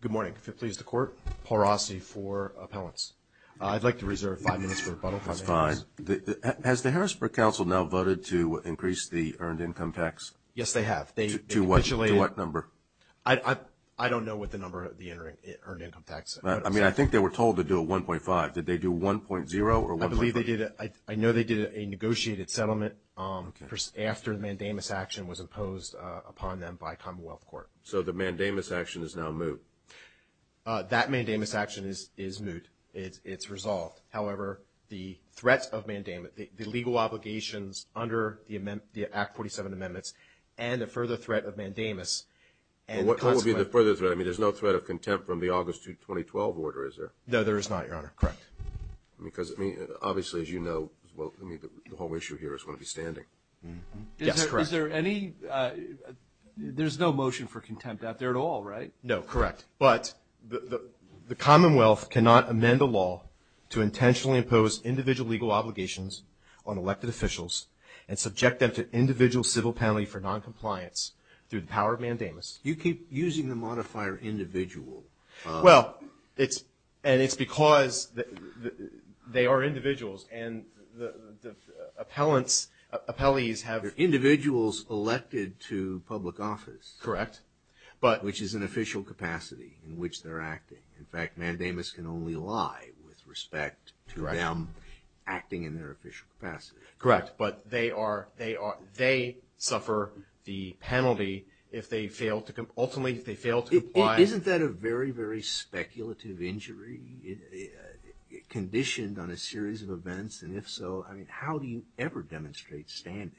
Good morning, if it pleases the court, Paul Rossi for appellants. I'd like to reserve five minutes for rebuttal. That's fine. Has the Harrisburg Council now voted to increase the earned income tax? Yes, they have. To what number? I don't know what the number of the earned income tax is. I think they were told to do a 1.5. Did they do 1.0 or 1.3? I know they did a negotiated settlement after the mandamus action was imposed upon them by commonwealth court. So the mandamus action is now moot? That mandamus action is moot. It's resolved. However, the threats of mandamus, the legal obligations under the Act 47 amendments and the further threat of mandamus and the consequence. What would be the further threat? I mean, there's no threat of contempt from the August 2, 2012 order, is there? No, there is not, Your Honor. Correct. Because, I mean, obviously, as you know, the whole issue here is going to be standing. Yes, correct. Is there any – there's no motion for contempt out there at all, right? No, correct. But the commonwealth cannot amend a law to intentionally impose individual legal obligations on elected officials and subject them to individual civil penalty for noncompliance through the power of mandamus. You keep using the modifier individual. Well, it's – and it's because they are individuals and the appellants – appellees have – They're individuals elected to public office. Correct. But – Which is an official capacity in which they're acting. In fact, mandamus can only lie with respect to them acting in their official capacity. Correct. But they are – they suffer the penalty if they fail to – ultimately, if they fail to comply. Isn't that a very, very speculative injury, conditioned on a series of events? And if so, I mean, how do you ever demonstrate standing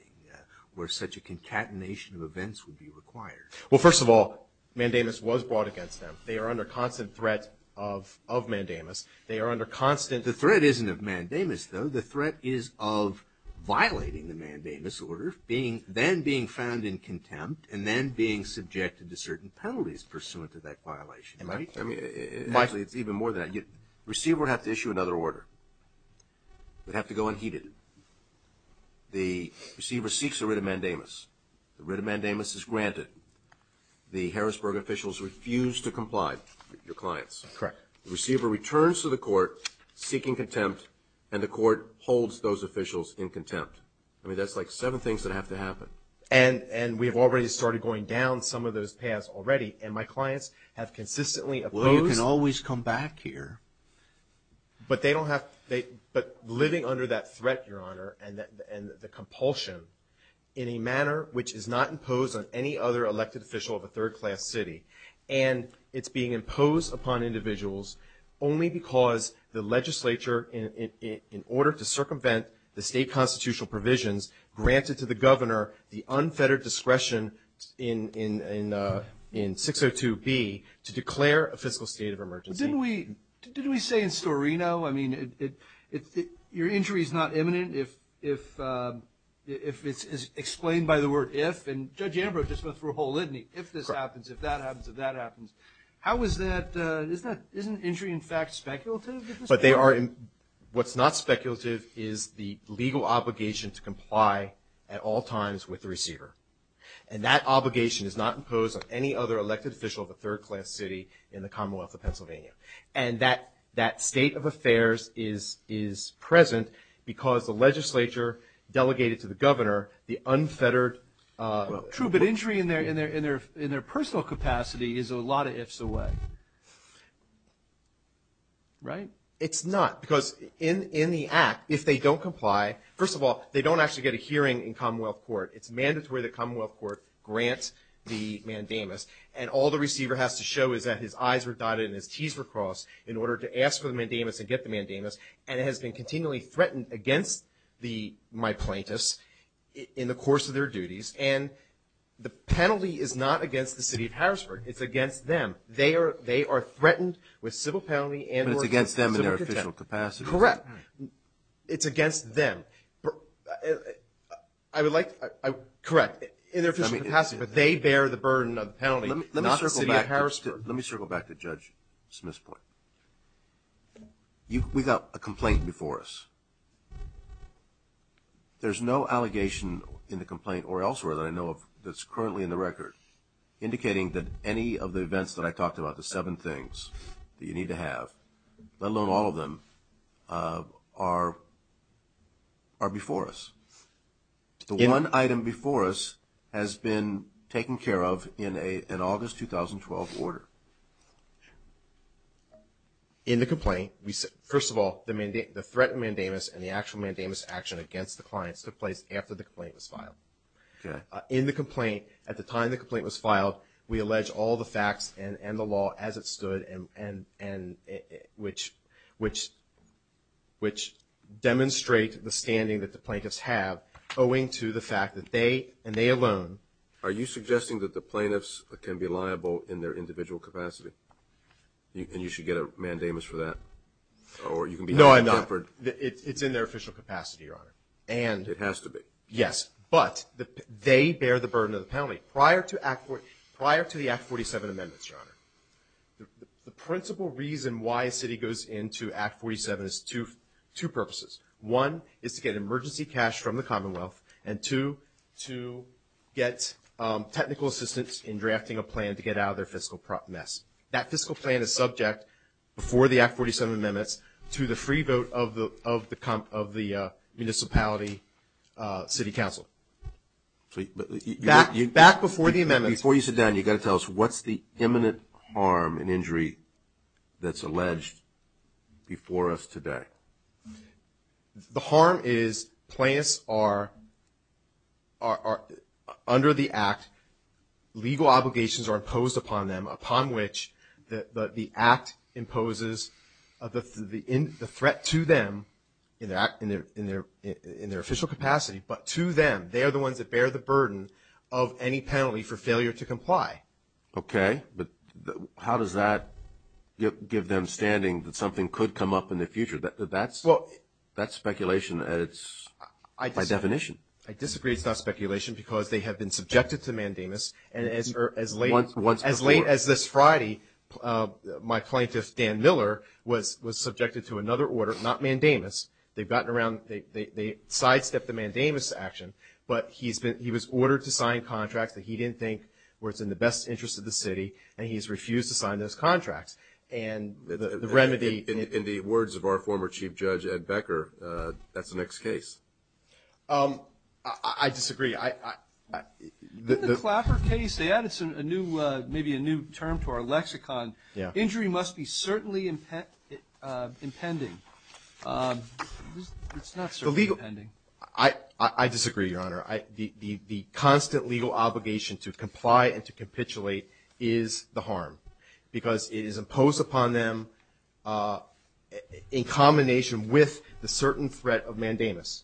where such a concatenation of events would be required? Well, first of all, mandamus was brought against them. They are under constant threat of mandamus. They are under constant – The threat isn't of mandamus, though. The threat is of violating the mandamus order, being – then being found in contempt, and then being subjected to certain penalties pursuant to that violation. Am I – I mean, actually, it's even more than that. Receiver would have to issue another order. It would have to go unheeded. The receiver seeks a writ of mandamus. The writ of mandamus is granted. The Harrisburg officials refuse to comply with your clients. Correct. The receiver returns to the court seeking contempt, and the court holds those officials in contempt. I mean, that's like seven things that have to happen. And we have already started going down some of those paths already, and my clients have consistently opposed – Well, you can always come back here. But they don't have – but living under that threat, Your Honor, and the compulsion in a manner which is not imposed on any other elected official of a third-class city, and it's being imposed upon individuals only because the legislature, in order to circumvent the state constitutional provisions, granted to the governor the unfettered discretion in 602B to declare a fiscal state of emergency. Didn't we say in Storino, I mean, your injury is not imminent if it's explained by the word if, and Judge Ambrose just went through a whole litany, if this happens, if that happens, if that happens. How is that – isn't injury, in fact, speculative at this point? But they are – what's not speculative is the legal obligation to comply at all times with the receiver. And that obligation is not imposed on any other elected official of a third-class city in the Commonwealth of Pennsylvania. And that state of affairs is present because the legislature delegated to the governor the unfettered – True, but injury in their personal capacity is a lot of ifs away, right? It's not. Because in the act, if they don't comply – first of all, they don't actually get a hearing in Commonwealth court. It's mandatory that Commonwealth court grant the mandamus. And all the receiver has to show is that his I's were dotted and his T's were crossed in order to ask for the mandamus and get the mandamus, and it has been continually threatened against the – my plaintiffs in the course of their duties. And the penalty is not against the city of Harrisburg. It's against them. They are – they are threatened with civil penalty and – But it's against them in their official capacity. Correct. It's against them. I would like – correct. In their official capacity. But they bear the burden of the penalty, not the city of Harrisburg. Let me circle back to Judge Smith's point. We've got a complaint before us. There's no allegation in the complaint or elsewhere that I know of that's currently in the record indicating that any of the events that I talked about, the seven things that I don't know. I don't know. I don't know. I don't know. I don't know. I don't know. I don't know. Let alone all of them are before us. The one item before us has been taken care of in a – an August 2012 order. In the complaint, we – first of all, the threat mandamus and the actual mandamus action against the clients took place after the complaint was filed. Okay. In the complaint – at the time the complaint was filed, we alleged all the facts and the – and – and which – which – which demonstrate the standing that the plaintiffs have owing to the fact that they – and they alone – Are you suggesting that the plaintiffs can be liable in their individual capacity? And you should get a mandamus for that? Or you can be – No, I'm not. It's in their official capacity, Your Honor. And – It has to be. Yes. But they bear the burden of the penalty. But prior to Act – prior to the Act 47 amendments, Your Honor, the principal reason why a city goes into Act 47 is two – two purposes. One is to get emergency cash from the Commonwealth, and two, to get technical assistance in drafting a plan to get out of their fiscal mess. That fiscal plan is subject, before the Act 47 amendments, to the free vote of the – of the – of the municipality city council. So – Back – back before the amendments. Before you sit down, you've got to tell us, what's the imminent harm and injury that's alleged before us today? The harm is plaintiffs are – are – under the Act, legal obligations are imposed upon them, upon which the Act imposes the threat to them in their – in their – in their legal obligations. They're the ones that bear the burden of any penalty for failure to comply. Okay. But how does that give them standing that something could come up in the future? That's – that's speculation, and it's by definition. I disagree. It's not speculation, because they have been subjected to mandamus, and as – as late – Once before. As late as this Friday, my plaintiff, Dan Miller, was – was subjected to another order, not mandamus. They've gotten around – they sidestepped the mandamus action. But he's been – he was ordered to sign contracts that he didn't think were what's in the best interest of the city, and he's refused to sign those contracts. And the remedy – In the words of our former Chief Judge, Ed Becker, that's the next case. I disagree. I – I – In the Clapper case, they added a new – maybe a new term to our lexicon. Yeah. Injury must be certainly impending. It's not certainly impending. I disagree, Your Honor. The constant legal obligation to comply and to capitulate is the harm, because it is imposed upon them in combination with the certain threat of mandamus.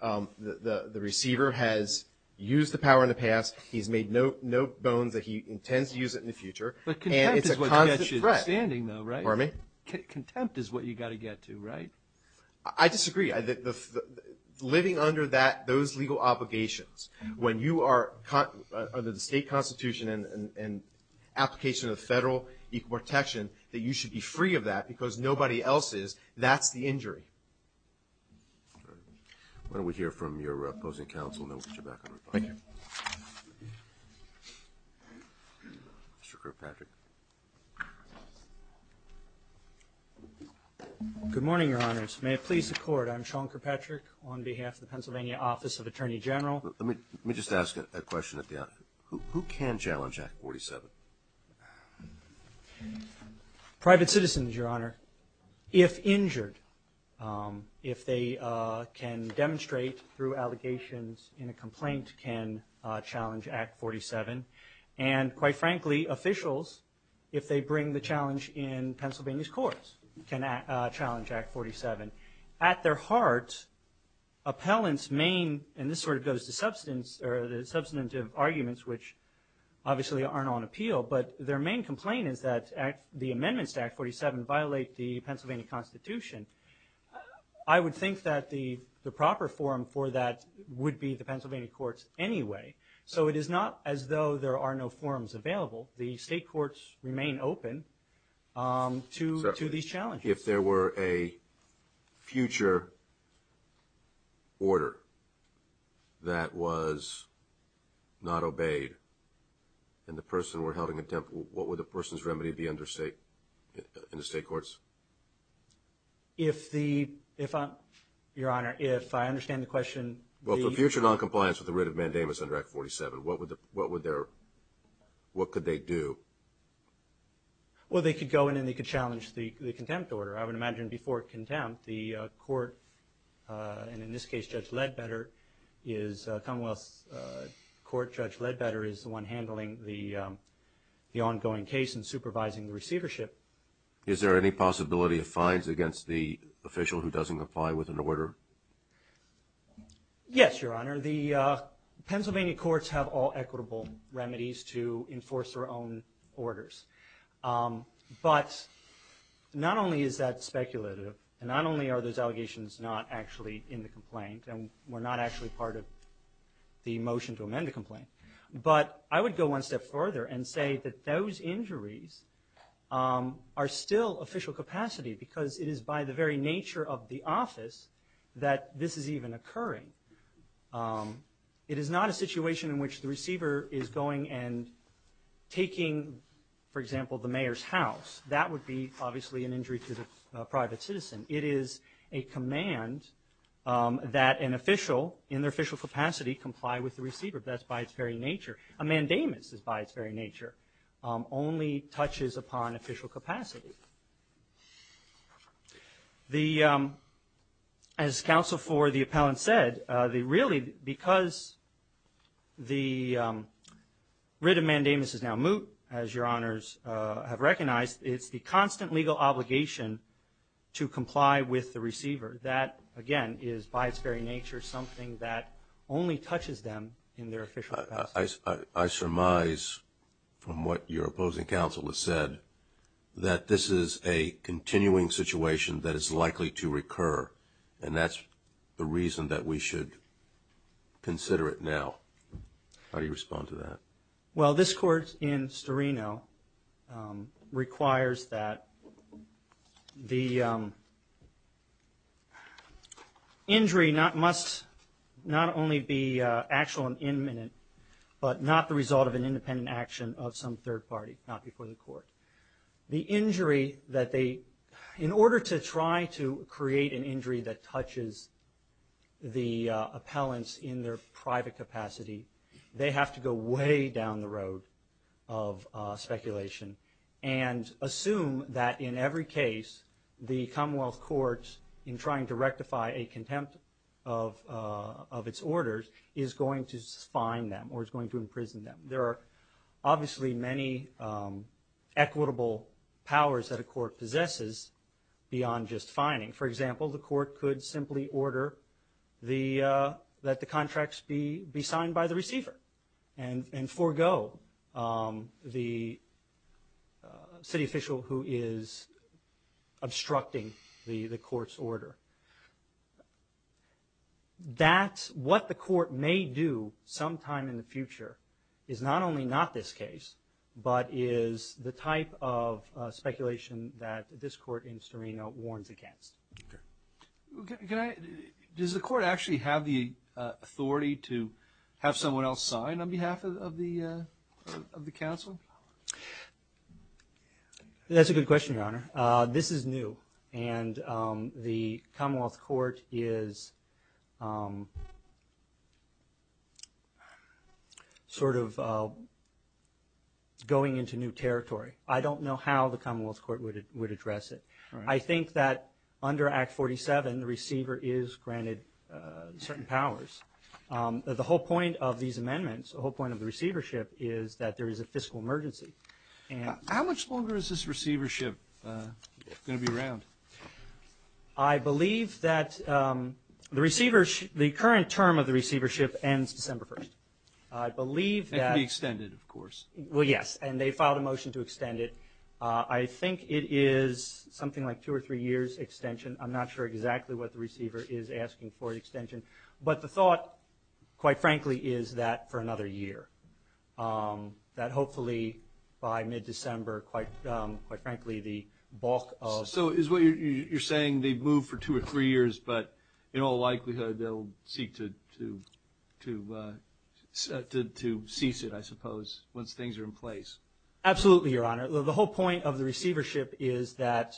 The receiver has used the power in the past, he's made no – no bones that he intends to use it in the future. But contempt is what gets you standing, though, right? And it's a constant threat. Pardon me? Contempt is what you got to get to, right? I disagree. Living under that – those legal obligations, when you are – under the state constitution and application of the federal equal protection, that you should be free of that, because nobody else is, that's the injury. All right. Why don't we hear from your opposing counsel, and then we'll get you back on record. Thank you. Mr. Kirkpatrick. Good morning, Your Honors. May it please the Court. I'm Sean Kirkpatrick on behalf of the Pennsylvania Office of Attorney General. Let me just ask a question at the – who can challenge Act 47? Private citizens, Your Honor, if injured. If they can demonstrate through allegations in a complaint, can challenge Act 47. And quite frankly, officials, if they bring the challenge in Pennsylvania's courts, can challenge Act 47. At their heart, appellants main – and this sort of goes to substantive arguments, which obviously aren't on appeal, but their main complaint is that the amendments to Act 47 violate the Pennsylvania constitution. I would think that the proper forum for that would be the Pennsylvania courts anyway. So it is not as though there are no forums available. The state courts remain open to these challenges. If there were a future order that was not obeyed and the person were held in contempt, what would the person's remedy be under state – in the state courts? If the – if I'm – Your Honor, if I understand the question, the – Well, for future noncompliance with the writ of mandamus under Act 47, what would the – what would their – what could they do? Well, they could go in and they could challenge the contempt order. I would imagine before contempt, the court – and in this case, Judge Ledbetter is – Commonwealth Court Judge Ledbetter is the one handling the ongoing case and supervising the receivership. Is there any possibility of fines against the official who doesn't comply with an order? Yes, Your Honor. The Pennsylvania courts have all equitable remedies to enforce their own orders. But not only is that speculative and not only are those allegations not actually in the complaint and were not actually part of the motion to amend the complaint, but I would go one step further and say that those injuries are still official capacity because it is by the very nature of the office that this is even occurring. It is not a situation in which the receiver is going and taking, for example, the mayor's house. That would be obviously an injury to the private citizen. It is a command that an official in their official capacity comply with the receiver. That's by its very nature. A mandamus is by its very nature only touches upon official capacity. As counsel for the appellant said, really because the writ of mandamus is now moot, as Your Honors have recognized, it's the constant legal obligation to comply with the receiver. That, again, is by its very nature something that only touches them in their official capacity. I surmise, from what your opposing counsel has said, that this is a continuing situation that is likely to recur, and that's the reason that we should consider it now. How do you respond to that? Well, this court in Storino requires that the injury must not only be actual and imminent, but not the result of an independent action of some third party, not before the court. The injury that they, in order to try to create an injury that touches the appellants in their case, is way down the road of speculation. And assume that in every case, the Commonwealth Courts, in trying to rectify a contempt of its orders, is going to fine them or is going to imprison them. There are obviously many equitable powers that a court possesses beyond just fining. For example, the court could simply order that the contracts be signed by the receiver. And forego the city official who is obstructing the court's order. That's what the court may do sometime in the future, is not only not this case, but is the type of speculation that this court in Storino warns against. Does the court actually have the authority to have someone else sign on behalf of the council? That's a good question, Your Honor. This is new, and the Commonwealth Court is sort of going into new territory. I don't know how the Commonwealth Court would address it. I think that under Act 47, the receiver is granted certain powers. The whole point of these amendments, the whole point of the receivership, is that there is a fiscal emergency. How much longer is this receivership going to be around? I believe that the current term of the receivership ends December 1st. I believe that... It can be extended, of course. Well, yes. And they filed a motion to extend it. I think it is something like two or three years extension. I'm not sure exactly what the receiver is asking for an extension. But the thought, quite frankly, is that for another year. That hopefully by mid-December, quite frankly, the bulk of... So is what you're saying, they move for two or three years, but in all likelihood, they'll seek to cease it, I suppose, once things are in place? Absolutely, Your Honor. The whole point of the receivership is that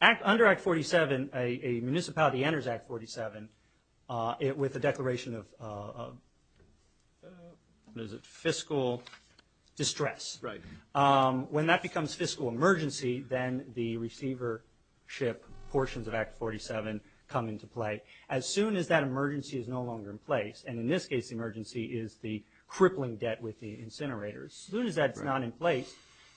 under Act 47, a municipality enters Act 47 with a declaration of fiscal distress. When that becomes fiscal emergency, then the receivership portions of Act 47 come into play. As soon as that emergency is no longer in place, and in this case, the emergency is the crippling debt with the incinerators. As soon as that's not in place,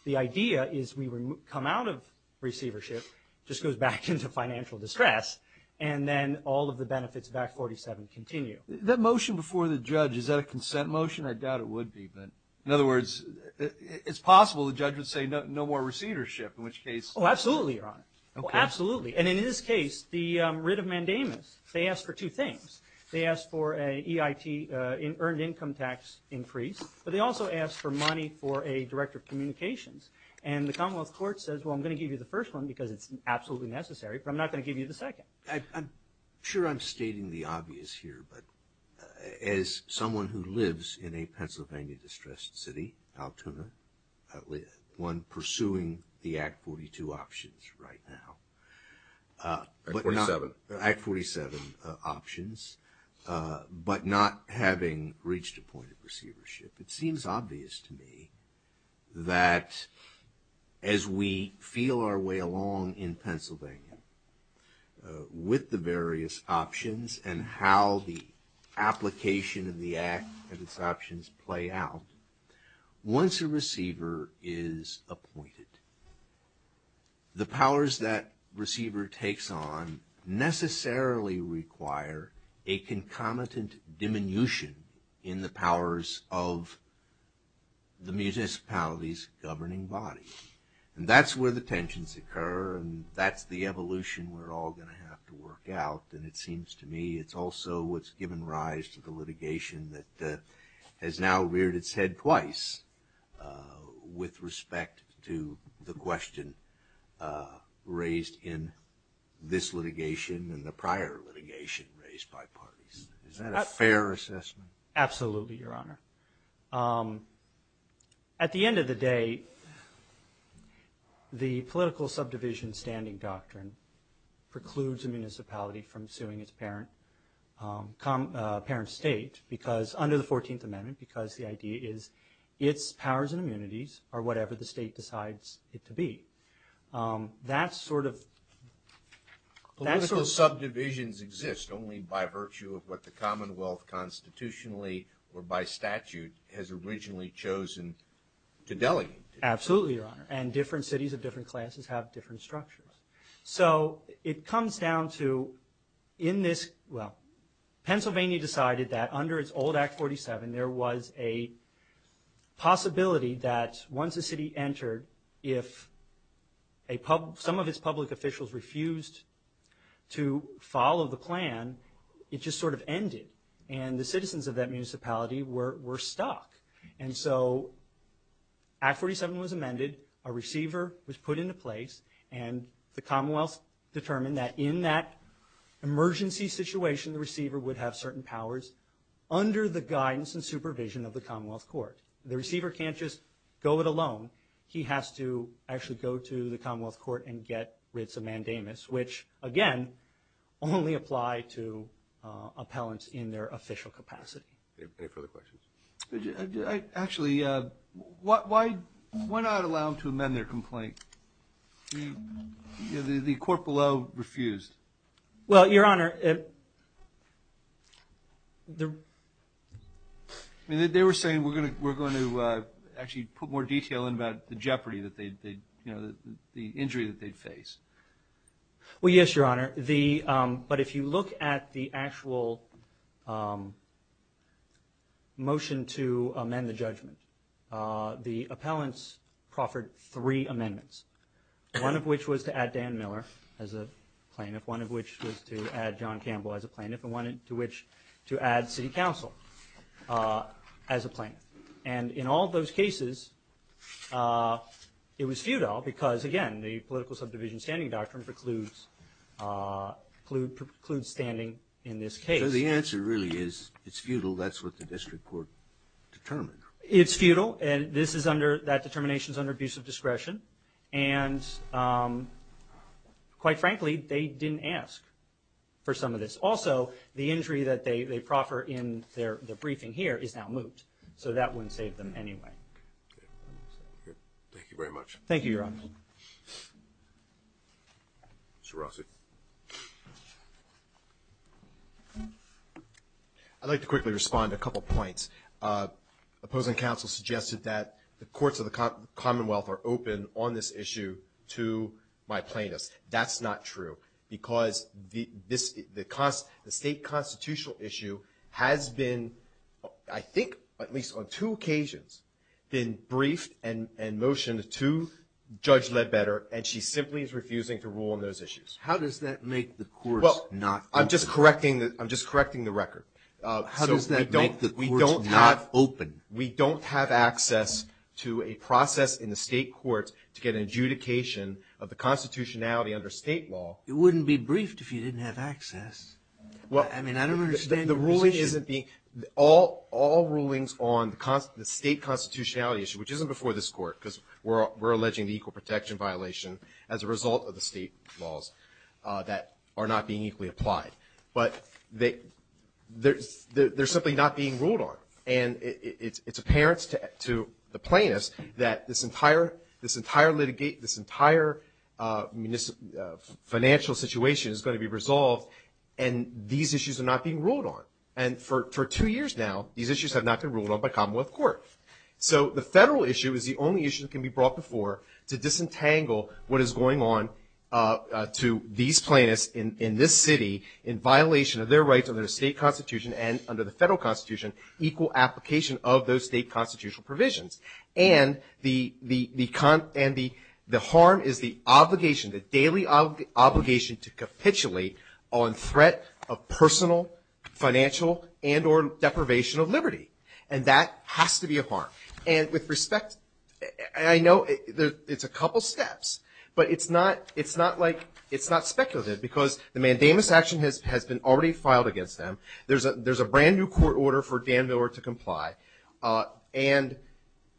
the idea is we come out of receivership, just goes back into financial distress, and then all of the benefits of Act 47 continue. That motion before the judge, is that a consent motion? I doubt it would be. But in other words, it's possible the judge would say no more receivership, in which case... Oh, absolutely, Your Honor. Okay. Well, absolutely. And in this case, the writ of mandamus, they asked for two things. They asked for a EIT, earned income tax increase, but they also asked for money for a director of communications. And the Commonwealth Court says, well, I'm going to give you the first one because it's absolutely necessary, but I'm not going to give you the second. I'm sure I'm stating the obvious here, but as someone who lives in a Pennsylvania-distressed city, Altoona, one pursuing the Act 42 options right now... Act 47. Act 47 options, but not having reached a point of receivership. It seems obvious to me that as we feel our way along in Pennsylvania with the various options and how the application of the Act and its options play out, once a receiver is appointed, the powers that receiver takes on necessarily require a concomitant diminution in the powers of the municipality's governing body. And that's where the tensions occur, and that's the evolution we're all going to have to work out. And it seems to me it's also what's given rise to the litigation that has now reared its head twice with respect to the question raised in this litigation and the prior litigation raised by parties. Is that a fair assessment? Absolutely, Your Honor. At the end of the day, the political subdivision standing doctrine precludes a municipality from suing its parent state, under the 14th Amendment, because the idea is its powers and immunities are whatever the state decides it to be. That sort of... Political subdivisions exist only by virtue of what the Commonwealth constitutionally or by statute has originally chosen to delegate. Absolutely, Your Honor. And different cities of different classes have different structures. So it comes down to, in this, well, Pennsylvania decided that under its old Act 47, there was a possibility that once a city entered, if some of its public officials refused to follow the plan, it just sort of ended, and the citizens of that municipality were stuck. And so, Act 47 was amended, a receiver was put into place, and the Commonwealth determined that in that emergency situation, the receiver would have certain powers under the guidance and supervision of the Commonwealth Court. The receiver can't just go it alone. He has to actually go to the Commonwealth Court and get writs of mandamus, which, again, only apply to appellants in their official capacity. Any further questions? Actually, why not allow them to amend their complaint? The court below refused. Well, Your Honor... I mean, they were saying, we're going to actually put more detail in about the jeopardy that they'd... The injury that they'd face. Well, yes, Your Honor. But if you look at the actual motion to amend the judgment, the appellants proffered three amendments, one of which was to add Dan Miller as a plaintiff, one of which was to add John Campbell as a plaintiff, and one to which to add City Council as a plaintiff. And in all those cases, it was futile because, again, the political subdivision standing doctrine precludes standing in this case. So the answer really is, it's futile. That's what the district court determined. It's futile, and this is under... That determination is under abuse of discretion, and quite frankly, they didn't ask for some of this. Also, the injury that they proffer in their briefing here is now moot, so that wouldn't save them anyway. Thank you very much. Thank you, Your Honor. Mr. Rossi? I'd like to quickly respond to a couple points. Opposing counsel suggested that the courts of the Commonwealth are open on this issue to my plaintiffs. That's not true because the state constitutional issue has been, I think at least on two occasions, been briefed and motioned to Judge Ledbetter, and she simply is refusing to rule on those issues. How does that make the courts not open? Well, I'm just correcting the record. How does that make the courts not open? We don't have access to a process in the state courts to get an adjudication of the constitutionality under state law. You wouldn't be briefed if you didn't have access. I mean, I don't understand your position. All rulings on the state constitutionality issue, which isn't before this court because we're alleging the equal protection violation as a result of the state laws that are not being equally applied, but they're simply not being ruled on. And it's apparent to the plaintiffs that this entire litigate, this entire financial situation is going to be resolved, and these issues are not being ruled on. And for two years now, these issues have not been ruled on by commonwealth court. So the federal issue is the only issue that can be brought before to disentangle what is going on to these plaintiffs in this city in violation of their rights under the state constitution and under the federal constitution, equal application of those state constitutional provisions. And the harm is the obligation, the daily obligation to capitulate on threat of personal financial and or deprivation of liberty. And that has to be a harm. And with respect, I know it's a couple steps, but it's not speculative because the mandamus action has been already filed against them. There's a brand new court order for Dan Miller to comply, and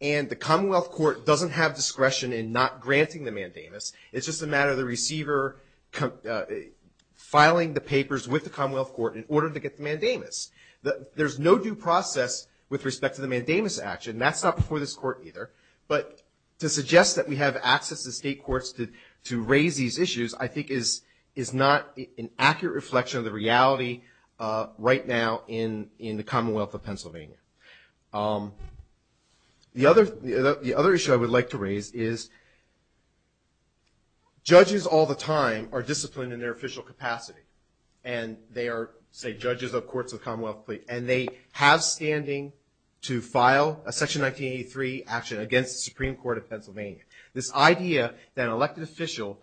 the commonwealth court doesn't have discretion in not granting the mandamus. It's just a matter of the receiver filing the papers with the commonwealth court in order to get the mandamus. There's no due process with respect to the mandamus action. That's not before this court either. But to suggest that we have access to state courts to raise these issues, I think is not an accurate reflection of the reality right now in the commonwealth of Pennsylvania. The other issue I would like to raise is judges all the time are disciplined in their official capacity, and they are, say, judges of courts of the commonwealth, and they have standing to file a section 1983 action against the Supreme Court of Pennsylvania. This idea that an elected official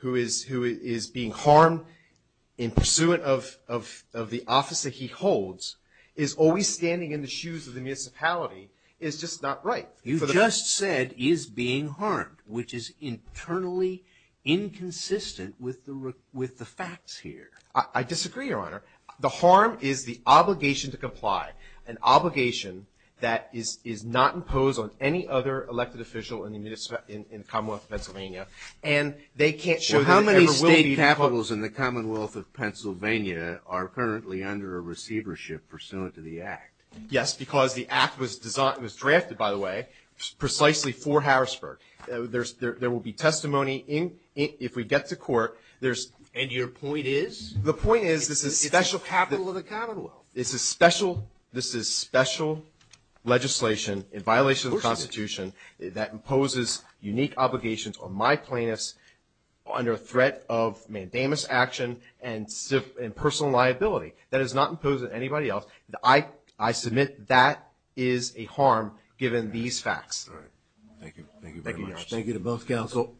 who is being harmed in pursuant of the office that he holds is always standing in the shoes of the municipality is just not right. You just said, is being harmed, which is internally inconsistent with the facts here. I disagree, Your Honor. The harm is the obligation to comply, an obligation that is not imposed on any other elected official in the commonwealth of Pennsylvania. And they can't show that it ever will be because... pursuant to the act. Yes, because the act was drafted, by the way, precisely for Harrisburg. There will be testimony if we get to court. And your point is? The point is this is... It's the capital of the commonwealth. This is special legislation in violation of the Constitution that imposes unique obligations on my plaintiffs under threat of mandamus action and personal liability. That is not imposed on anybody else. I submit that is a harm given these facts. All right. Thank you. Thank you very much. Thank you to both counsel.